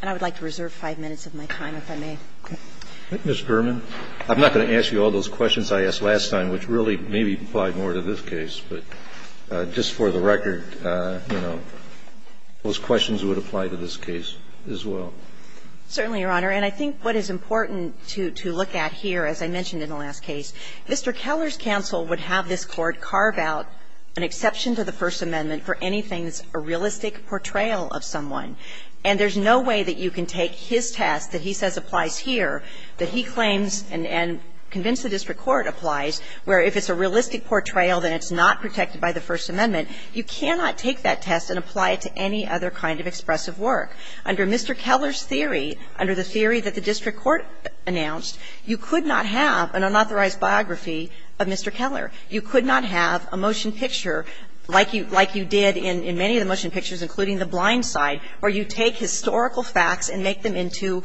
And I would like to reserve five minutes of my time, if I may. Mr. Berman, I'm not going to ask you all those questions I asked last time, which really maybe apply more to this case, but just for the record, you know, those questions would apply to this case as well. Certainly, Your Honor. And I think what is important to look at here, as I mentioned in the last case, Mr. Keller's counsel would have this Court carve out an exception to the First Amendment for the portrayal of someone. And there's no way that you can take his test that he says applies here, that he claims and convinced the district court applies, where if it's a realistic portrayal, then it's not protected by the First Amendment, you cannot take that test and apply it to any other kind of expressive work. Under Mr. Keller's theory, under the theory that the district court announced, you could not have an unauthorized biography of Mr. Keller. You could not have a motion picture like you did in many of the motion pictures, including the blind side, where you take historical facts and make them into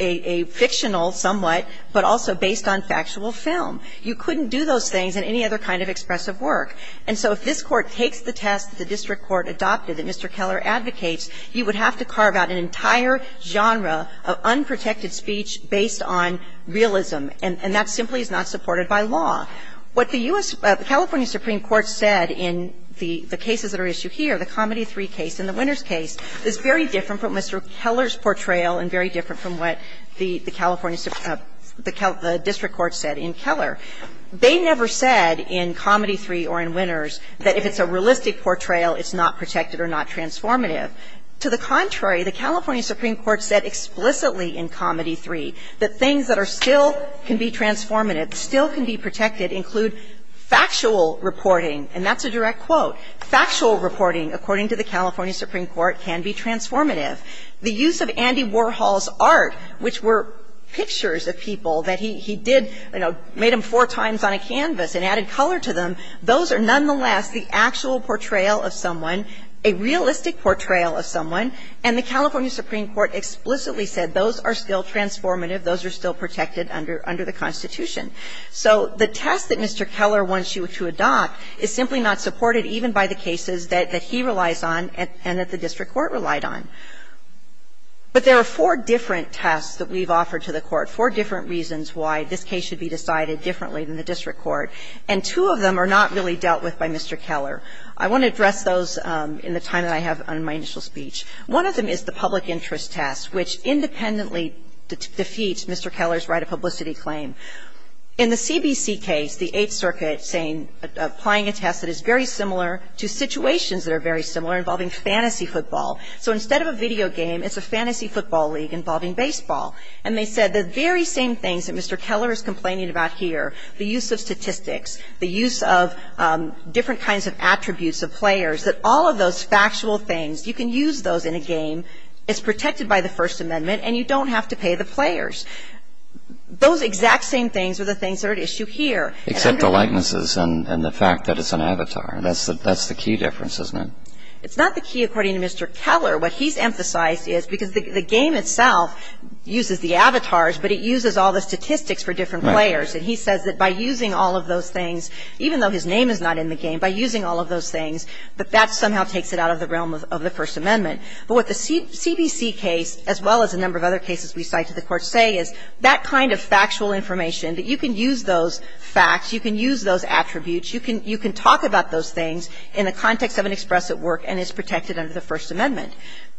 a fictional somewhat, but also based on factual film. You couldn't do those things in any other kind of expressive work. And so if this Court takes the test that the district court adopted that Mr. Keller advocates, you would have to carve out an entire genre of unprotected speech based on realism, and that simply is not supported by law. What the U.S. the California Supreme Court said in the cases that are issued here, the Comedy 3 case and the Winners case, is very different from Mr. Keller's portrayal and very different from what the California, the district court said in Keller. They never said in Comedy 3 or in Winners that if it's a realistic portrayal, it's not protected or not transformative. To the contrary, the California Supreme Court said explicitly in Comedy 3 that things that are still can be transformative, still can be protected, include factual reporting, and that's a direct quote. Factual reporting, according to the California Supreme Court, can be transformative. The use of Andy Warhol's art, which were pictures of people that he did, you know, made them four times on a canvas and added color to them, those are nonetheless the actual portrayal of someone, a realistic portrayal of someone, and the California Supreme Court explicitly said those are still transformative, those are still protected under the Constitution. So the test that Mr. Keller wants you to adopt is simply not supported even by the cases that he relies on and that the district court relied on. But there are four different tests that we've offered to the Court, four different reasons why this case should be decided differently than the district court, and two of them are not really dealt with by Mr. Keller. I want to address those in the time that I have on my initial speech. One of them is the public interest test, which independently defeats Mr. Keller's right of publicity claim. In the CBC case, the Eighth Circuit saying, applying a test that is very similar to situations that are very similar involving fantasy football. So instead of a video game, it's a fantasy football league involving baseball. And they said the very same things that Mr. Keller is complaining about here, the use of statistics, the use of different kinds of attributes of players, that all of those in a game is protected by the First Amendment and you don't have to pay the players. Those exact same things are the things that are at issue here. Except the likenesses and the fact that it's an avatar. That's the key difference, isn't it? It's not the key, according to Mr. Keller. What he's emphasized is because the game itself uses the avatars, but it uses all the statistics for different players. And he says that by using all of those things, even though his name is not in the game, by using all of those things, that that somehow takes it out of the realm of the First Amendment. But what the CBC case, as well as a number of other cases we cite to the Court, say is that kind of factual information, that you can use those facts, you can use those attributes, you can talk about those things in the context of an express at work and it's protected under the First Amendment.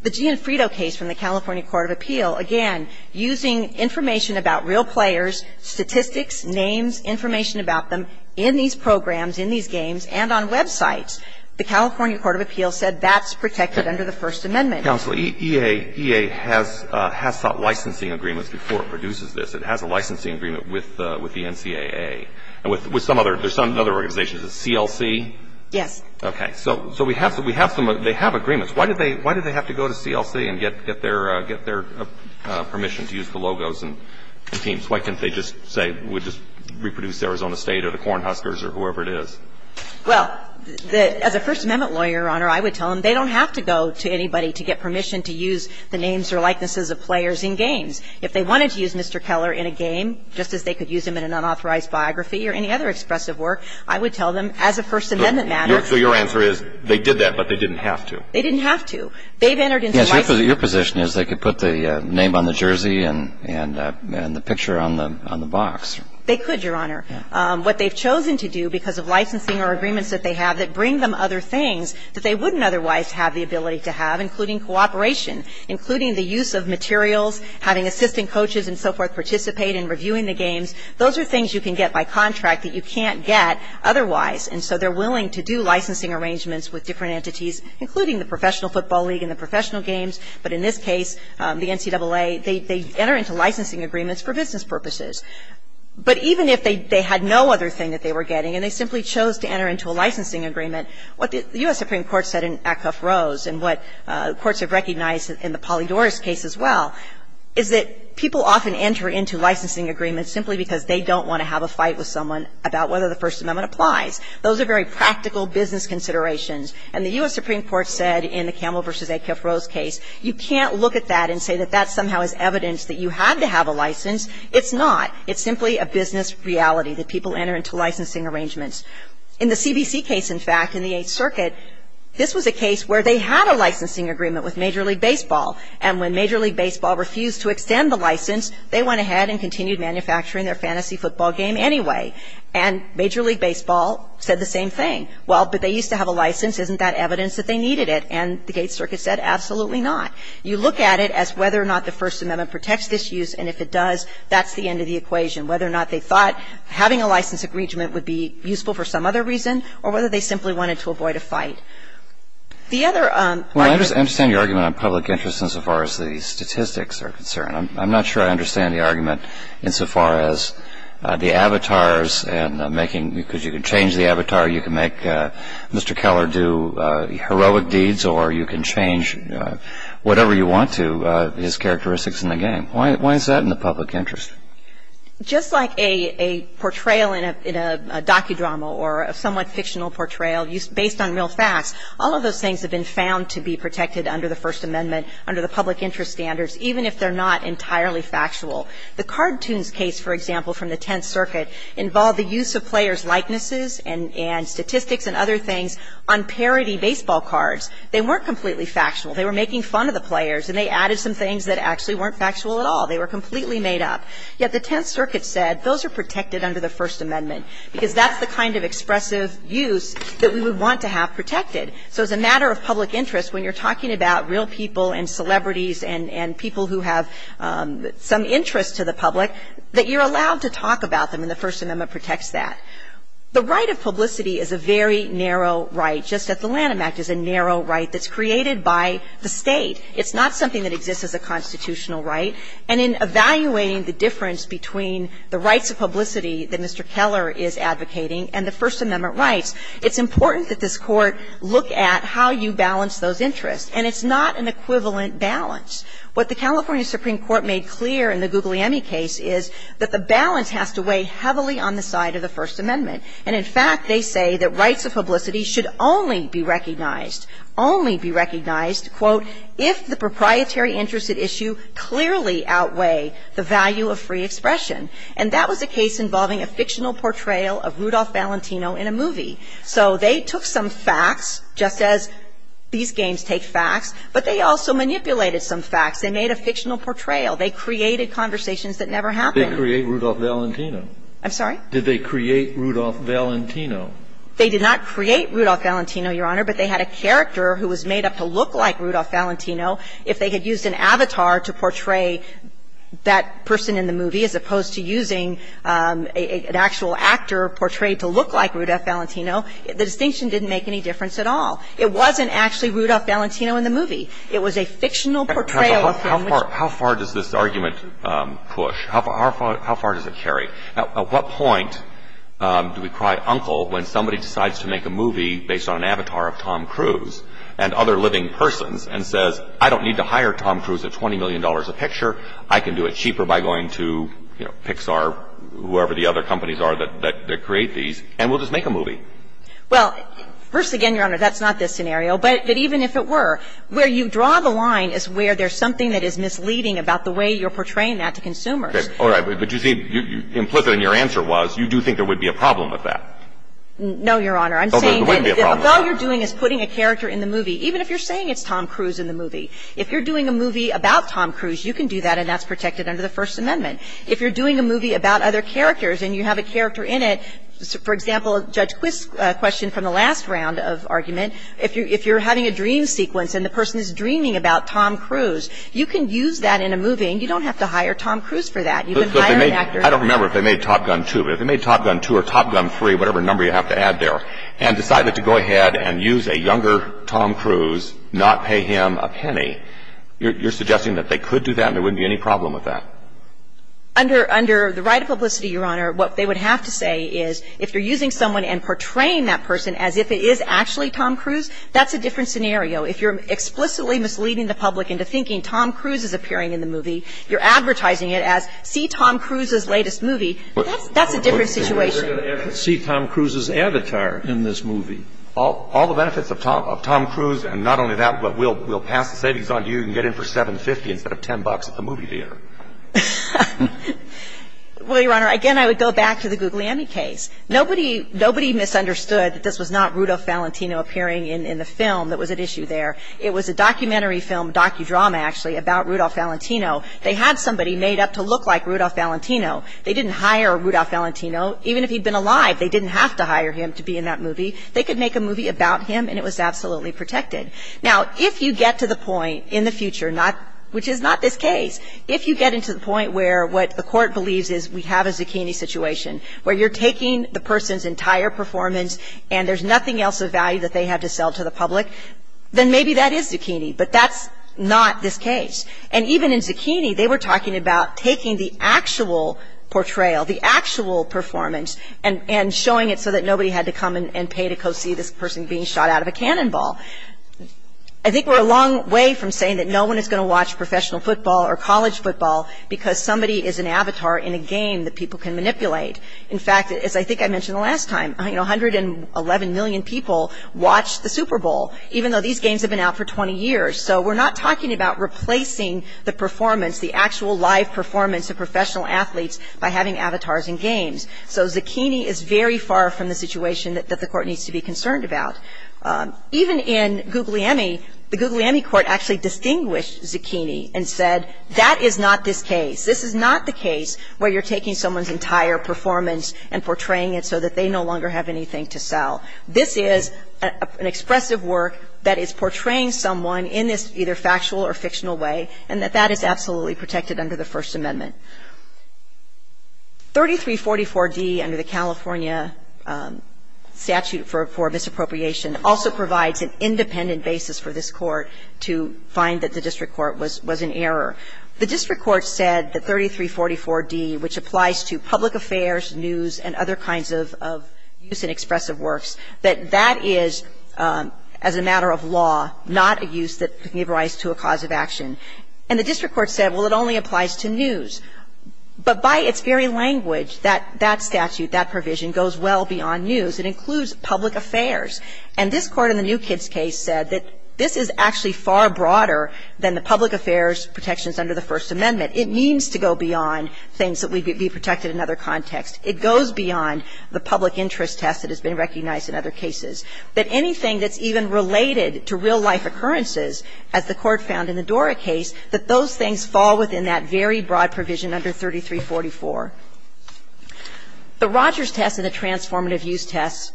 The Gianfrido case from the California Court of Appeal, again, using information about real players, statistics, names, information about them in these programs, in these games, and on websites, the California Court of Appeals said that's As panel that I saw earlier with Congratulations on the First Amendment. Counsel, EA, EA has sought licensing agreements before it produces this. It has a licensing agreement with the NCAA. And with some other, there's soy are other organizations. CLC? Yes. So — so we have — they have some — they have agreements. Why did they have to go to CLC and get their permission to use the logos and teams? Why couldn't they just say, we'll just reproduce Arizona State or the Cornhuskers or whoever it is? Well, as a First Amendment lawyer, Your Honor, I would tell them they don't have to go to anybody to get permission to use the names or likenesses of players in games. If they wanted to use Mr. Keller in a game, just as they could use him in an unauthorized biography or any other expressive work, I would tell them as a First Amendment matter — So your answer is they did that, but they didn't have to? They didn't have to. They've entered into license — Yes. Your position is they could put the name on the jersey and the picture on the box. They could, Your Honor. What they've chosen to do because of licensing or agreements that they have that bring them other things that they wouldn't otherwise have the ability to have, including cooperation, including the use of materials, having assistant coaches and so forth participate in reviewing the games, those are things you can get by contract that you can't get otherwise. And so they're willing to do licensing arrangements with different entities, including the Professional Football League and the professional games. But in this case, the NCAA, they enter into licensing agreements for business purposes. But even if they had no other thing that they were getting and they simply chose to enter into a licensing agreement, what the U.S. Supreme Court said in Acuff-Rose and what courts have recognized in the Polydorus case as well, is that people often enter into licensing agreements simply because they don't want to have a fight with someone about whether the First Amendment applies. Those are very practical business considerations. And the U.S. Supreme Court said in the Camel versus Acuff-Rose case, you can't look at that and say that that somehow is evidence that you had to have a license. It's not. It's simply a business reality that people enter into licensing arrangements. In the CBC case, in fact, in the Eighth Circuit, this was a case where they had a licensing agreement with Major League Baseball. And when Major League Baseball refused to extend the license, they went ahead and continued manufacturing their fantasy football game anyway. And Major League Baseball said the same thing. Well, but they used to have a license. Isn't that evidence that they needed it? And the Eighth Circuit said, absolutely not. You look at it as whether or not the First Amendment protects this use, and if it does, that's the end of the equation, whether or not they thought having a license agreement would be useful for some other reason, or whether they simply wanted to avoid a fight. The other argument of public interest insofar as the statistics are concerned. I'm not sure I understand the argument insofar as the avatars and making you can change the avatar, you can make Mr. Keller do heroic deeds, or you can change whatever you want to his characteristics in the game. Why is that in the public interest? Just like a portrayal in a docudrama or a somewhat fictional portrayal based on real facts, all of those things have been found to be protected under the First Amendment under the public interest standards, even if they're not entirely factual. The cartoons case, for example, from the Tenth Circuit involved the use of players' likenesses and statistics and other things on parody baseball cards. They weren't completely factual. They were making fun of the players, and they added some things that actually weren't factual at all. They were completely made up. Yet the Tenth Circuit said those are protected under the First Amendment, because that's the kind of expressive use that we would want to have protected. So as a matter of public interest, when you're talking about real people and celebrities and people who have some interest to the public, that you're allowed to talk about them, and the First Amendment protects that. The right of publicity is a very narrow right. Just as the Lanham Act is a narrow right that's created by the State. It's not something that exists as a constitutional right. And in evaluating the difference between the rights of publicity that Mr. Keller is advocating and the First Amendment rights, it's important that this Court look at how you balance those interests. And it's not an equivalent balance. What the California Supreme Court made clear in the Guglielmi case is that the balance has to weigh heavily on the side of the First Amendment. And in fact, they say that rights of publicity should only be recognized, only be recognized, quote, if the proprietary interest at issue clearly outweigh the value of free expression. And that was the case involving a fictional portrayal of Rudolph Valentino in a movie. So they took some facts, just as these games take facts, but they also manipulated some facts. They made a fictional portrayal. They created conversations that never happened. Kennedy, did they create Rudolph Valentino? I'm sorry? Did they create Rudolph Valentino? They did not create Rudolph Valentino, Your Honor, but they had a character who was made up to look like Rudolph Valentino. If they had used an avatar to portray that person in the movie as opposed to using an actual actor portrayed to look like Rudolph Valentino, the distinction didn't make any difference at all. It wasn't actually Rudolph Valentino in the movie. It was a fictional portrayal of him. How far does this argument push? How far does it carry? At what point do we cry uncle when somebody decides to make a movie based on an avatar of Tom Cruise and other living persons and says, I don't need to hire Tom Cruise at $20 million a picture. I can do it cheaper by going to, you know, Pixar, whoever the other companies are that create these, and we'll just make a movie? Well, first again, Your Honor, that's not this scenario. But even if it were, where you draw the line is where there's something that is misleading about the way you're portraying that to consumers. Okay, all right. But you see, implicit in your answer was you do think there would be a problem with that. No, Your Honor. I'm saying that all you're doing is putting a character in the movie. Even if you're saying it's Tom Cruise in the movie. If you're doing a movie about Tom Cruise, you can do that and that's protected under the First Amendment. If you're doing a movie about other characters and you have a character in it, for example, Judge Quist's question from the last round of argument, if you're having a dream sequence and the person is dreaming about Tom Cruise, you can use that in a movie and you don't have to hire Tom Cruise for that. I don't remember if they made Top Gun 2, but if they made Top Gun 2 or Top Gun 3, whatever number you have to add there, and decided to go ahead and use a younger Tom Cruise, not pay him a penny, you're suggesting that they could do that and there wouldn't be any problem with that? Under the right of publicity, Your Honor, what they would have to say is if you're using someone and portraying that person as if it is actually Tom Cruise, that's a different scenario. If you're explicitly misleading the public into thinking Tom Cruise is appearing in the movie, you're advertising it as, see Tom Cruise's latest movie, that's a different situation. See Tom Cruise's avatar in this movie. All the benefits of Tom Cruise, and not only that, but we'll pass the savings on to you, you can get in for $7.50 instead of $10 at the movie theater. Well, Your Honor, again, I would go back to the Guglielmi case. Nobody misunderstood that this was not Rudolph Valentino appearing in the film that was at issue there. It was a documentary film, docudrama actually, about Rudolph Valentino. They had somebody made up to look like Rudolph Valentino. They didn't hire Rudolph Valentino. Even if he'd been alive, they didn't have to hire him to be in that movie. They could make a movie about him and it was absolutely protected. Now, if you get to the point in the future, which is not this case, if you get into the point where what the court believes is we have a zucchini situation, where you're taking the person's entire performance and there's nothing else of value that they had to sell to the public, then maybe that is zucchini. But that's not this case. And even in zucchini, they were talking about taking the actual portrayal, the actual performance, and showing it so that nobody had to come and pay to go see this person being shot out of a cannonball. I think we're a long way from saying that no one is going to watch professional football or college football because somebody is an avatar in a game that people can manipulate. In fact, as I think I mentioned the last time, you know, 111 million people watched the Super Bowl, even though these games have been out for 20 years. So we're not talking about replacing the performance, the actual live performance of professional athletes by having avatars in games. So zucchini is very far from the situation that the court needs to be concerned about. Even in Googly Emmy, the Googly Emmy court actually distinguished zucchini and said that is not this case. This is not the case where you're taking someone's entire performance and portraying it so that they no longer have anything to sell. This is an expressive work that is portraying someone in this either factual or fictional way, and that that is absolutely protected under the First Amendment. 3344D, under the California statute for misappropriation, also provides an independent basis for this court to find that the district court was an error. The district court said that 3344D, which applies to public affairs, news, and other kinds of use in expressive works, is not the case. That that is, as a matter of law, not a use that can give rise to a cause of action. And the district court said, well, it only applies to news. But by its very language, that statute, that provision, goes well beyond news. It includes public affairs. And this Court in the New Kids case said that this is actually far broader than the public affairs protections under the First Amendment. It means to go beyond things that would be protected in other contexts. It goes beyond the public interest test that has been recognized in other cases. But anything that's even related to real life occurrences, as the Court found in the Dora case, that those things fall within that very broad provision under 3344. The Rogers test and the transformative use test,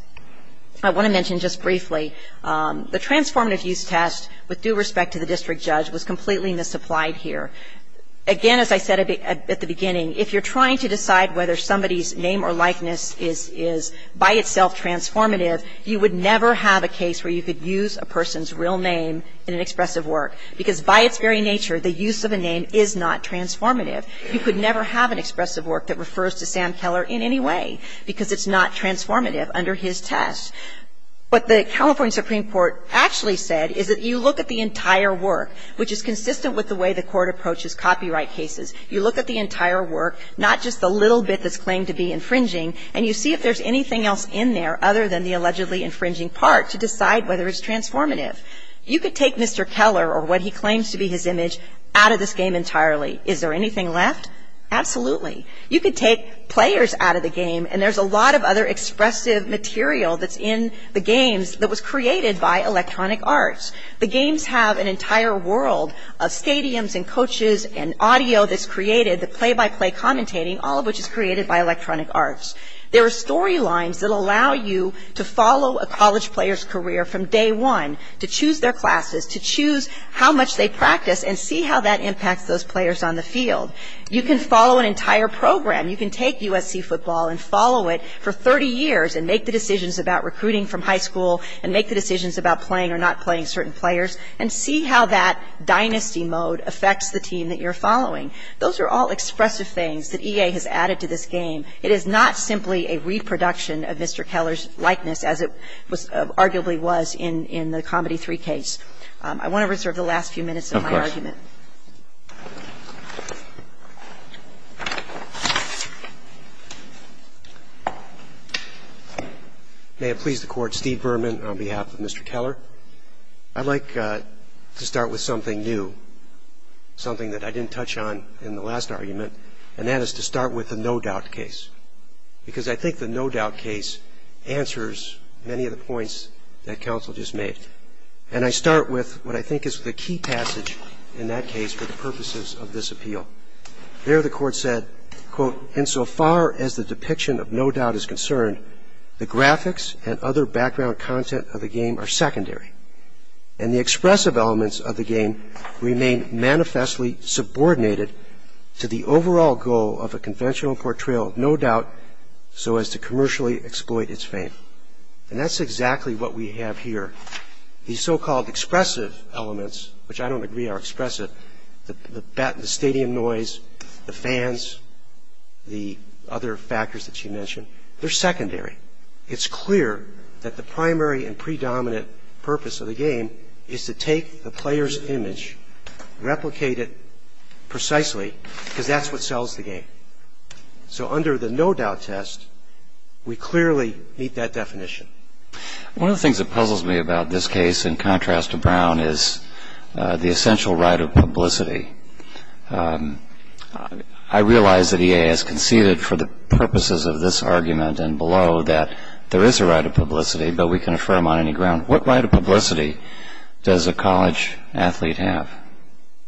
I want to mention just briefly, the transformative use test, with due respect to the district judge, was completely misapplied here. Again, as I said at the beginning, if you're trying to decide whether somebody's name or likeness is by itself transformative, you would never have a case where you could use a person's real name in an expressive work. Because by its very nature, the use of a name is not transformative. You could never have an expressive work that refers to Sam Keller in any way, because it's not transformative under his test. What the California Supreme Court actually said is that you look at the entire work, which is consistent with the way the Court approaches copyright cases. You look at the entire work, not just the little bit that's claimed to be infringing, and you see if there's anything else in there other than the allegedly infringing part to decide whether it's transformative. You could take Mr. Keller or what he claims to be his image out of this game entirely. Is there anything left? Absolutely. You could take players out of the game, and there's a lot of other expressive material that's in the games that was created by Electronic Arts. The games have an entire world of stadiums and coaches and audio that's created, the play-by-play commentating, all of which is created by Electronic Arts. There are storylines that allow you to follow a college player's career from day one, to choose their classes, to choose how much they practice and see how that impacts those players on the field. You can follow an entire program. You can take USC football and follow it for 30 years and make the decisions about recruiting from high school and make the decisions about playing or not playing certain players and see how that dynasty mode affects the team that you're following. Those are all expressive things that EA has added to this game. It is not simply a reproduction of Mr. Keller's likeness as it arguably was in the Comedy 3 case. I want to reserve the last few minutes of my argument. Of course. May it please the Court, Steve Berman on behalf of Mr. Keller. I'd like to start with something new, something that I didn't touch on in the last argument, and that is to start with the No Doubt case because I think the No Doubt case answers many of the points that counsel just made. And I start with what I think is the key passage in that case for the purposes of this appeal. There the Court said, quote, insofar as the depiction of No Doubt is concerned, the graphics and other background content of the game are secondary, and the expressive elements of the game remain manifestly subordinated to the overall goal of a conventional portrayal of No Doubt so as to commercially exploit its fame. And that's exactly what we have here. These so-called expressive elements, which I don't agree are expressive, the stadium noise, the fans, the other factors that she mentioned, they're secondary. It's clear that the primary and predominant purpose of the game is to take the player's image, replicate it precisely because that's what sells the game. So under the No Doubt test, we clearly meet that definition. One of the things that puzzles me about this case in contrast to Brown is the essential right of publicity. I realize that EA has conceded for the purposes of this argument and below that there is a right of publicity, but we can affirm on any ground. What right of publicity does a college athlete have?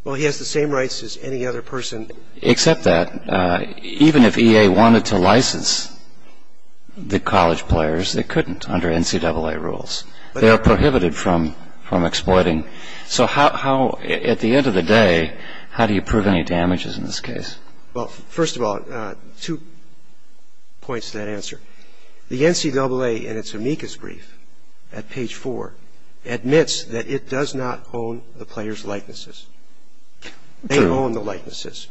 Well, he has the same rights as any other person. Except that even if EA wanted to license the college players, they couldn't under NCAA rules. They are prohibited from exploiting. So at the end of the day, how do you prove any damages in this case? Well, first of all, two points to that answer. The NCAA in its amicus brief at page four admits that it does not own the player's likenesses. They own the likenesses.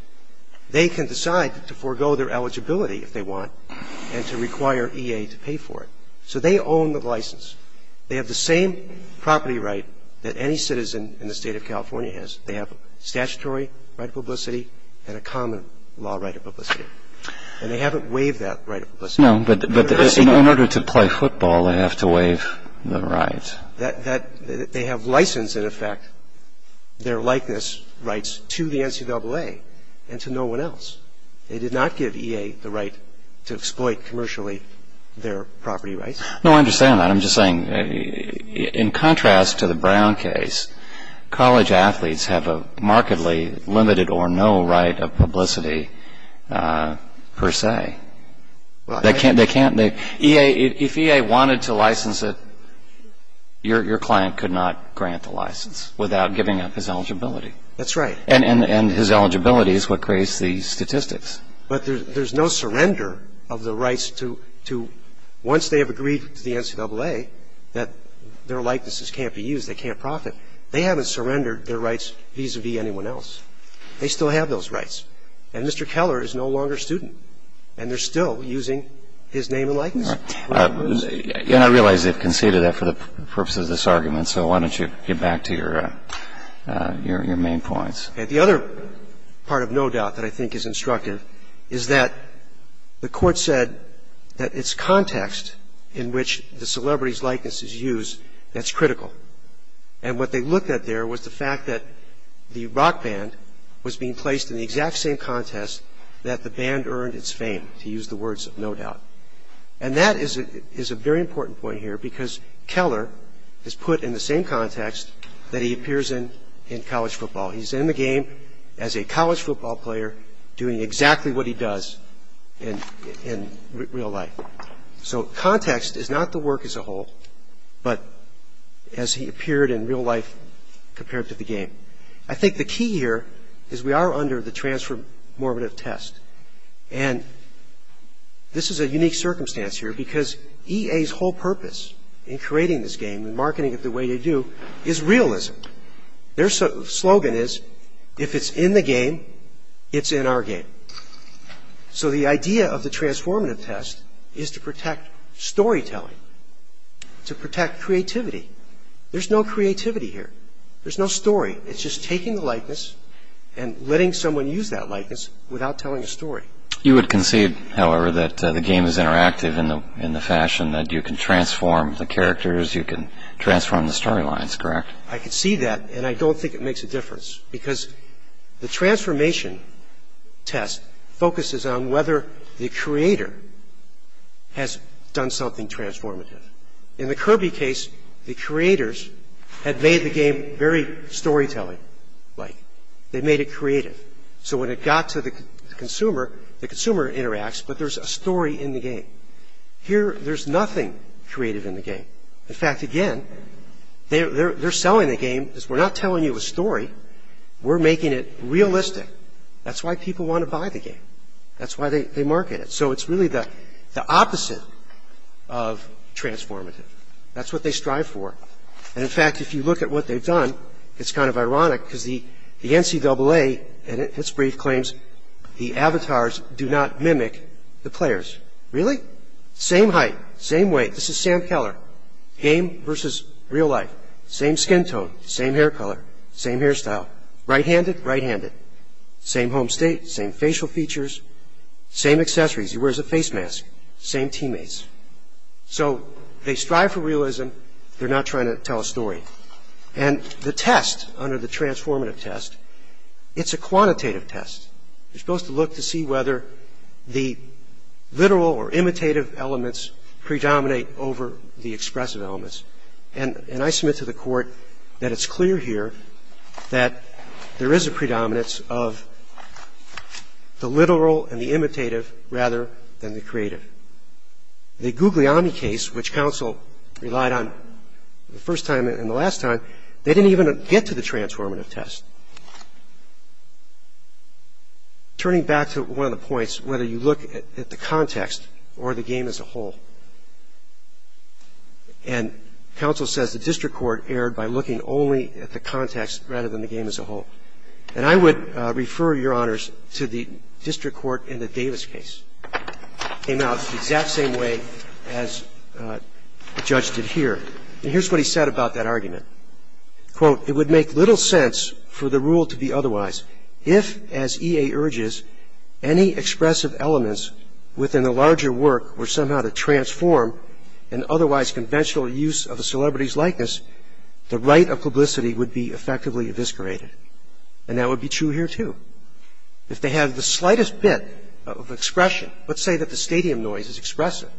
They can decide to forego their eligibility if they want and to require EA to pay for it. So they own the license. They have the same property right that any citizen in the State of California has. They have statutory right of publicity and a common law right of publicity. And they haven't waived that right of publicity. No, but in order to play football, they have to waive the right. They have licensed, in effect, their likeness rights to the NCAA and to no one else. They did not give EA the right to exploit commercially their property rights. No, I understand that. I'm just saying, in contrast to the Brown case, college athletes have a markedly limited or no right of publicity per se. They can't, they can't, EA, if EA wanted to license it, your client could not grant the license without giving up his eligibility. That's right. And his eligibility is what creates these statistics. But there's no surrender of the rights to, once they have agreed to the NCAA that their likenesses can't be used, they can't profit. They haven't surrendered their rights vis-a-vis anyone else. They still have those rights. And Mr. Keller is no longer a student. And they're still using his name and likeness. And I realize they've conceded that for the purpose of this argument, so why don't you get back to your main points? The other part of no doubt that I think is instructive is that the court said that it's context in which the celebrity's likeness is used that's critical. And what they looked at there was the fact that the rock band was being placed in the exact same contest that the band earned its fame, to use the words of no doubt. And that is a very important point here because Keller is put in the same context that he appears in in college football. He's in the game as a college football player doing exactly what he does in real life. So context is not the work as a whole, but as he appeared in real life compared to the game. I think the key here is we are under the transfer-morbid test. And this is a unique circumstance here because EA's whole purpose in creating this game and marketing it the way they do is realism. Their slogan is, if it's in the game, it's in our game. So the idea of the transformative test is to protect storytelling, to protect creativity. There's no creativity here. There's no story. It's just taking the likeness and letting someone use that likeness without telling a story. You would concede, however, that the game is interactive in the fashion that you can transform the characters, you can transform the storylines, correct? I concede that, and I don't think it makes a difference because the transformation test focuses on whether the creator has done something transformative. In the Kirby case, the creators had made the game very storytelling-like. They made it creative. So when it got to the consumer, the consumer interacts, but there's a story Here, there's nothing creative in the game. In fact, again, they're selling the game because we're not telling you a story. We're making it realistic. That's why people want to buy the game. That's why they market it. So it's really the opposite of transformative. That's what they strive for. And in fact, if you look at what they've done, it's kind of ironic because the NCAA, in its brief, claims the avatars do not mimic the players. Really? Same height, same weight. This is Sam Keller. Game versus real life. Same skin tone, same hair color, same hairstyle. Right-handed, right-handed. Same home state, same facial features, same accessories. He wears a face mask. Same teammates. So they strive for realism. They're not trying to tell a story. And the test under the transformative test, it's a quantitative test. You're supposed to look to see whether the literal or imitative elements predominate over the expressive elements. And I submit to the court that it's clear here that there is a predominance of the literal and the imitative rather than the creative. The Guglielmi case, which counsel relied on the first time and the last time, they didn't even get to the transformative test. Turning back to one of the points, whether you look at the context or the game as a whole, and counsel says the district court erred by looking only at the context rather than the game as a whole. And I would refer, Your Honors, to the district court in the Davis case. Came out the exact same way as the judge did here. And here's what he said about that argument. Quote, it would make little sense for the rule to be otherwise if, as EA urges, any expressive elements within the larger work were somehow to transform an otherwise conventional use of a celebrity's likeness, the right of publicity would be effectively eviscerated. And that would be true here, too. If they have the slightest bit of expression, let's say that the stadium noise is expressive,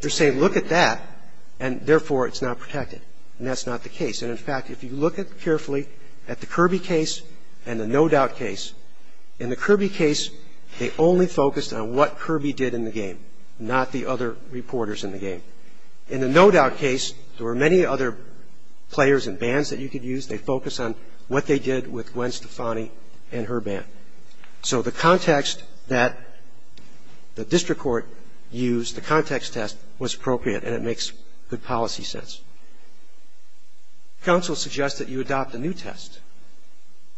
they're saying look at that, and therefore it's not protected, and that's not the case. And in fact, if you look carefully at the Kirby case and the No Doubt case, in the Kirby case, they only focused on what Kirby did in the game, not the other reporters in the game. In the No Doubt case, there were many other players and bands that you could use. They focused on what they did with Gwen Stefani and her band. So the context that the district court used, the context test, was appropriate, and it makes good policy sense. Counsel suggests that you adopt a new test.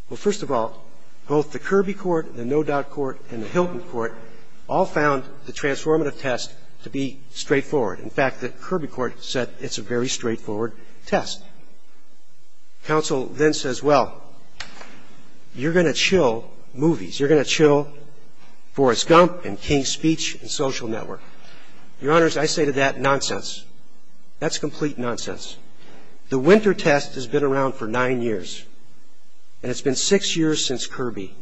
Well, first of all, both the Kirby court, the No Doubt court, and the Hilton court all found the transformative test to be straightforward. In fact, the Kirby court said it's a very straightforward test. Counsel then says, well, you're going to chill movies. You're going to chill Forrest Gump and King's Speech and Social Network. Your Honors, I say to that, nonsense. That's complete nonsense. The winter test has been around for nine years, and it's been six years since Kirby.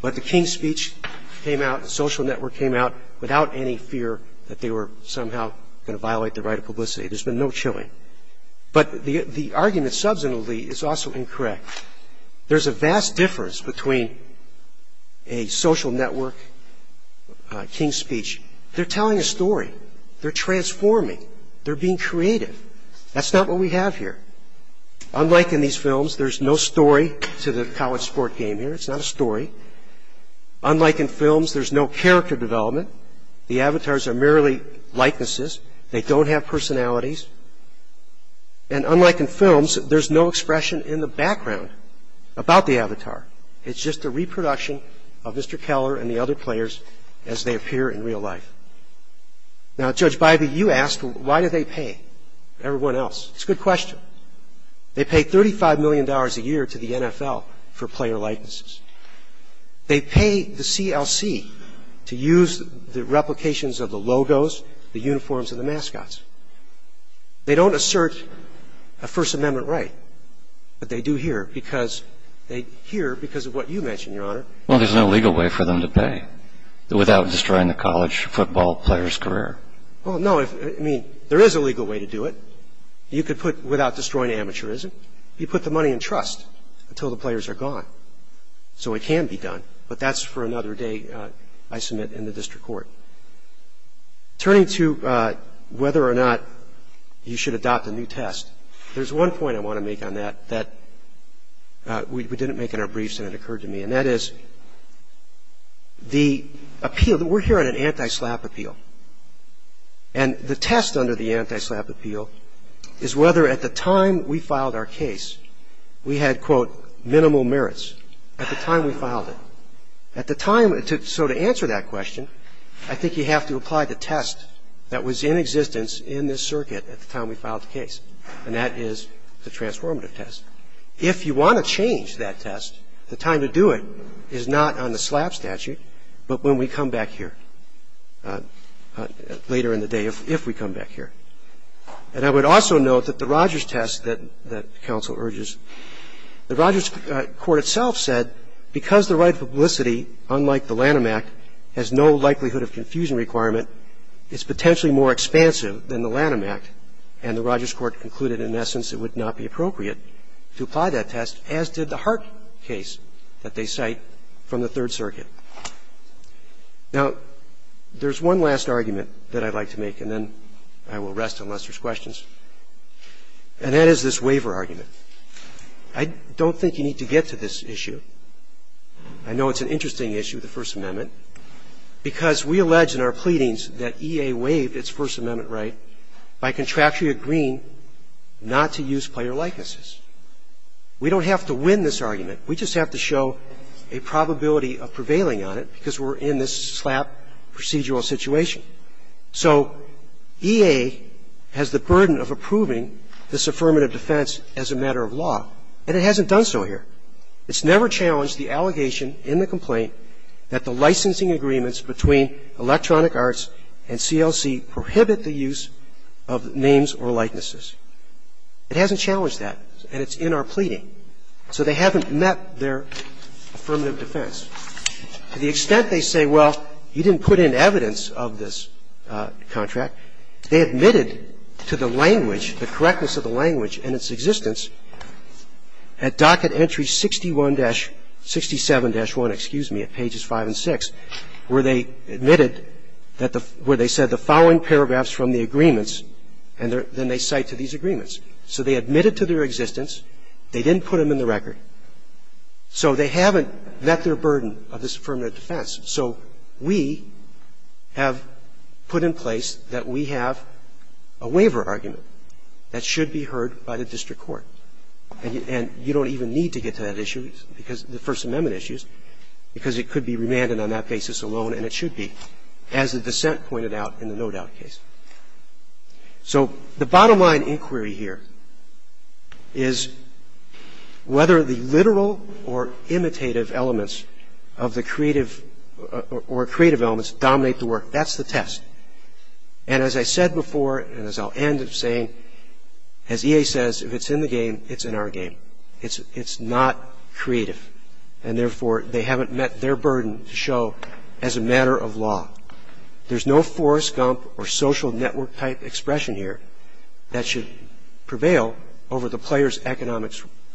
But the King's Speech came out and Social Network came out without any fear that they were somehow going to violate the right of publicity. There's been no chilling. But the argument subsequently is also incorrect. There's a vast difference between a Social Network, King's Speech. They're telling a story. They're transforming. They're being creative. That's not what we have here. Unlike in these films, there's no story to the college sport game here. It's not a story. Unlike in films, there's no character development. The avatars are merely likenesses. They don't have personalities. And unlike in films, there's no expression in the background about the avatar. It's just a reproduction of Mr. Keller and the other players as they appear in real life. Now, Judge Bybee, you asked why do they pay everyone else? It's a good question. They pay $35 million a year to the NFL for player likenesses. They pay the CLC to use the replications of the logos, the uniforms, and the mascots. They don't assert a First Amendment right, but they do here because they here because of what you mentioned, Your Honor. Well, there's no legal way for them to pay without destroying the college football player's career. Well, no. I mean, there is a legal way to do it. You could put, without destroying amateurism, you put the money in trust until the players are gone. So it can be done, but that's for another day I submit in the district court. Turning to whether or not you should adopt a new test, there's one point I want to make on that that we didn't make in our briefs and it occurred to me. And that is the appeal, we're here on an anti-slap appeal. And the test under the anti-slap appeal is whether at the time we filed our case we had, quote, minimal merits at the time we filed it. At the time, so to answer that question, I think you have to apply the test that was in existence in this circuit at the time we filed the case, and that is the transformative test. If you want to change that test, the time to do it is not on the slap statute, but when we come back here later in the day, if we come back here. And I would also note that the Rogers test that counsel urges, the Rogers court itself said because the right of publicity, unlike the Lanham Act, has no likelihood of confusion requirement, it's potentially more expansive than the Lanham Act. And the Rogers court concluded in essence it would not be appropriate to apply that test, as did the Hart case that they cite from the Third Circuit. Now, there's one last argument that I'd like to make and then I will rest unless there's questions. And that is this waiver argument. I don't think you need to get to this issue. I know it's an interesting issue, the First Amendment, because we allege in our contract we agree not to use player likenesses. We don't have to win this argument. We just have to show a probability of prevailing on it because we're in this slap procedural situation. So EA has the burden of approving this affirmative defense as a matter of law, and it hasn't done so here. It hasn't challenged that and it's in our pleading. So they haven't met their affirmative defense. To the extent they say, well, you didn't put in evidence of this contract, they admitted to the language, the correctness of the language and its existence at docket entry 61-67-1, excuse me, at pages 5 and 6, where they admitted that the following paragraphs from the agreements and then they cite to these agreements. So they admitted to their existence. They didn't put them in the record. So they haven't met their burden of this affirmative defense. So we have put in place that we have a waiver argument that should be heard by the district court. And you don't even need to get to that issue because the First Amendment issues because it could be remanded on that basis alone and it should be, as the dissent pointed out in the no doubt case. So the bottom line inquiry here is whether the literal or imitative elements of the creative or creative elements dominate the work. That's the test. And as I said before and as I'll end of saying, as EA says, if it's in the game, it's in our game. It's not creative. And therefore, they haven't met their burden to show as a matter of law. There's no Forrest Gump or social network type expression here that should prevail over the player's economic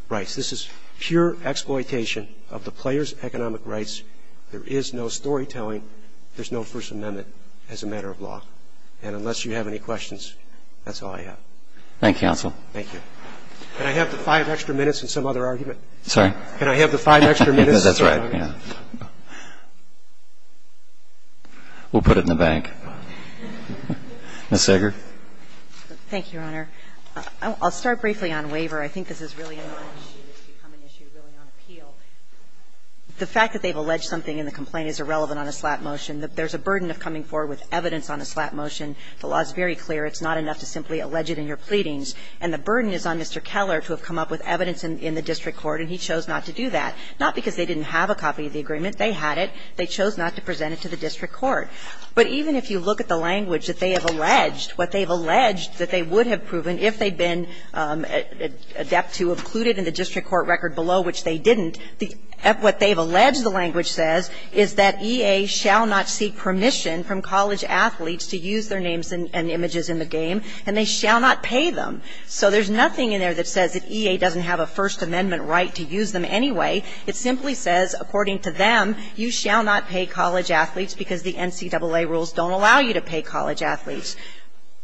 rights. This is pure exploitation of the player's economic rights. There is no storytelling. There's no First Amendment as a matter of law. And unless you have any questions, that's all I have. Thank you, counsel. Thank you. Can I have the five extra minutes and some other argument? Sorry? Can I have the five extra minutes? That's right. We'll put it in the bank. Ms. Sager. Thank you, Your Honor. I'll start briefly on waiver. I think this has really become an issue really on appeal. The fact that they've alleged something in the complaint is irrelevant on a slap motion. There's a burden of coming forward with evidence on a slap motion. The law is very clear. It's not enough to simply allege it in your pleadings. And the burden is on Mr. Keller to have come up with evidence in the district court, and he chose not to do that. Not because they didn't have a copy of the agreement. They had it. They chose not to present it to the district court. But even if you look at the language that they have alleged, what they've alleged that they would have proven if they'd been adept to have included in the district court record below, which they didn't, what they've alleged the language says is that EA shall not seek permission from college athletes to use their names and images in the game, and they shall not pay them. So there's nothing in there that says that EA doesn't have a First Amendment right to use them anyway. It simply says, according to them, you shall not pay college athletes because the NCAA rules don't allow you to pay college athletes.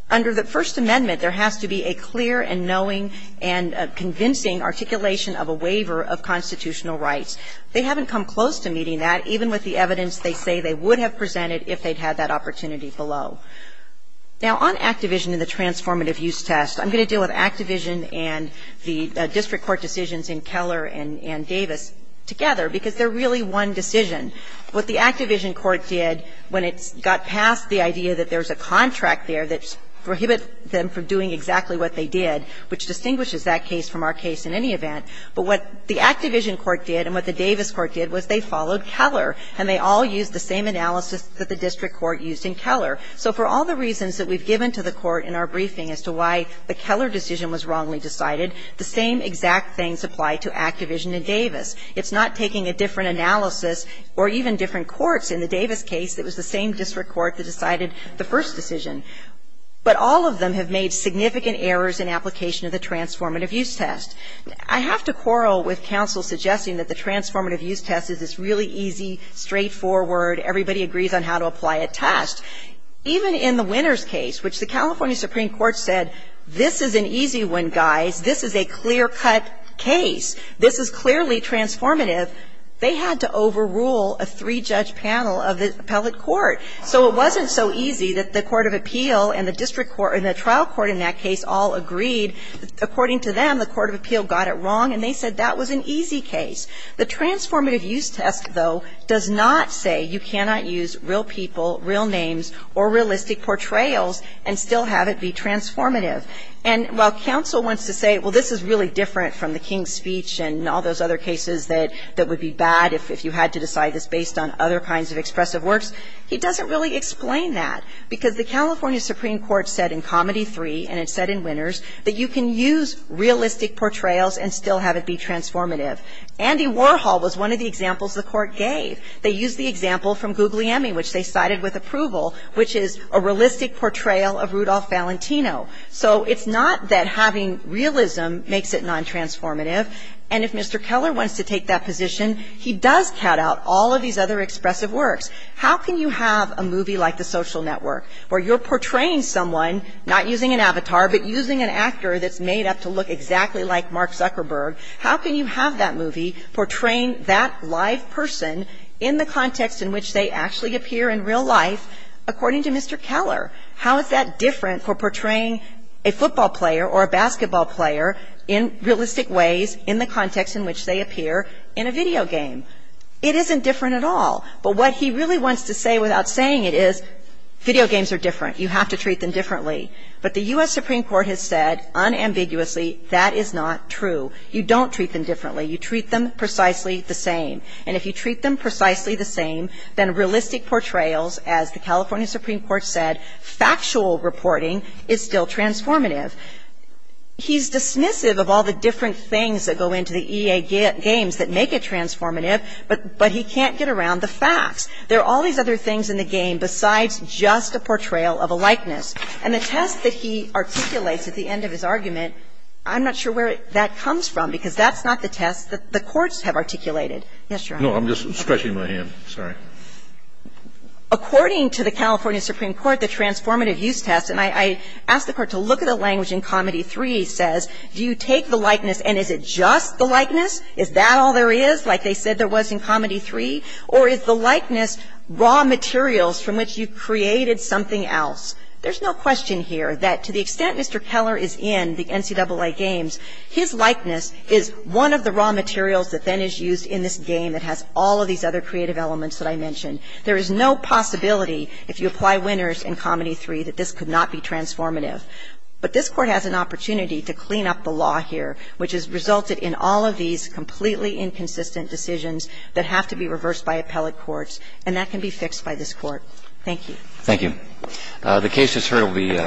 Under the First Amendment, there has to be a clear and knowing and convincing articulation of a waiver of constitutional rights. They haven't come close to meeting that, even with the evidence they say they would have presented if they'd had that opportunity below. Now, on Activision and the transformative use test, I'm going to deal with Activision and the district court decisions in Keller and Davis together because they're really one decision. What the Activision court did when it got past the idea that there's a contract there that prohibits them from doing exactly what they did, which distinguishes that case from our case in any event. But what the Activision court did and what the Davis court did was they followed Keller, and they all used the same analysis that the district court used in Keller. So for all the reasons that we've given to the court in our briefing as to why the Keller decision was wrongly decided, the same exact things apply to Activision and Davis. It's not taking a different analysis or even different courts. In the Davis case, it was the same district court that decided the first decision. But all of them have made significant errors in application of the transformative use test. I have to quarrel with counsel suggesting that the transformative use test is this really easy, straightforward, everybody agrees on how to apply it test. Even in the Winters case, which the California Supreme Court said, this is an easy one, guys. This is a clear-cut case. This is clearly transformative. They had to overrule a three-judge panel of the appellate court. So it wasn't so easy that the court of appeal and the district court and the trial court in that case all agreed. According to them, the court of appeal got it wrong, and they said that was an easy case. The transformative use test, though, does not say you cannot use real people, real names, or realistic portrayals and still have it be transformative. And while counsel wants to say, well, this is really different from the King's speech and all those other cases that would be bad if you had to decide this based on other kinds of expressive works, he doesn't really explain that. Because the California Supreme Court said in Comedy 3, and it said in Winters, that you can use realistic portrayals and still have it be transformative. Andy Warhol was one of the examples the court gave. They used the example from Guglielmi, which they cited with approval, which is a realistic portrayal of Rudolph Valentino. So it's not that having realism makes it non-transformative. And if Mr. Keller wants to take that position, he does cut out all of these other expressive works. How can you have a movie like The Social Network, where you're portraying someone, not using an avatar, but using an actor that's made up to look exactly like Mark Zuckerberg, how can you have that movie portraying that live person in a context in which they actually appear in real life according to Mr. Keller? How is that different for portraying a football player or a basketball player in realistic ways in the context in which they appear in a video game? It isn't different at all. But what he really wants to say without saying it is video games are different. You have to treat them differently. But the U.S. Supreme Court has said unambiguously that is not true. You don't treat them differently. You treat them precisely the same. And if you treat them precisely the same, then realistic portrayals, as the California Supreme Court said, factual reporting is still transformative. He's dismissive of all the different things that go into the EA games that make it transformative, but he can't get around the facts. There are all these other things in the game besides just a portrayal of a likeness. And the test that he articulates at the end of his argument, I'm not sure where that comes from, because that's not the test that the courts have articulated. Yes, Your Honor. No, I'm just stretching my hand. Sorry. According to the California Supreme Court, the transformative use test, and I asked the Court to look at the language in Comedy 3, says, do you take the likeness and is it just the likeness? Is that all there is, like they said there was in Comedy 3? Or is the likeness raw materials from which you created something else? There's no question here that to the extent Mr. Keller is in the NCAA games, his game has all of these other creative elements that I mentioned. There is no possibility if you apply winners in Comedy 3 that this could not be transformative. But this Court has an opportunity to clean up the law here, which has resulted in all of these completely inconsistent decisions that have to be reversed by appellate courts, and that can be fixed by this Court. Thank you. Thank you. The case, as heard, will be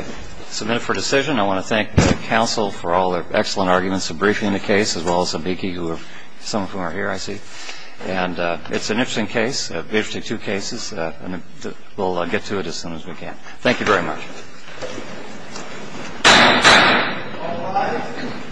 submitted for decision. I want to thank counsel for all their excellent arguments in briefing the case, as well as counsel Beakey, some of whom are here, I see. It's an interesting case, an interesting two cases. We'll get to it as soon as we can. Thank you very much.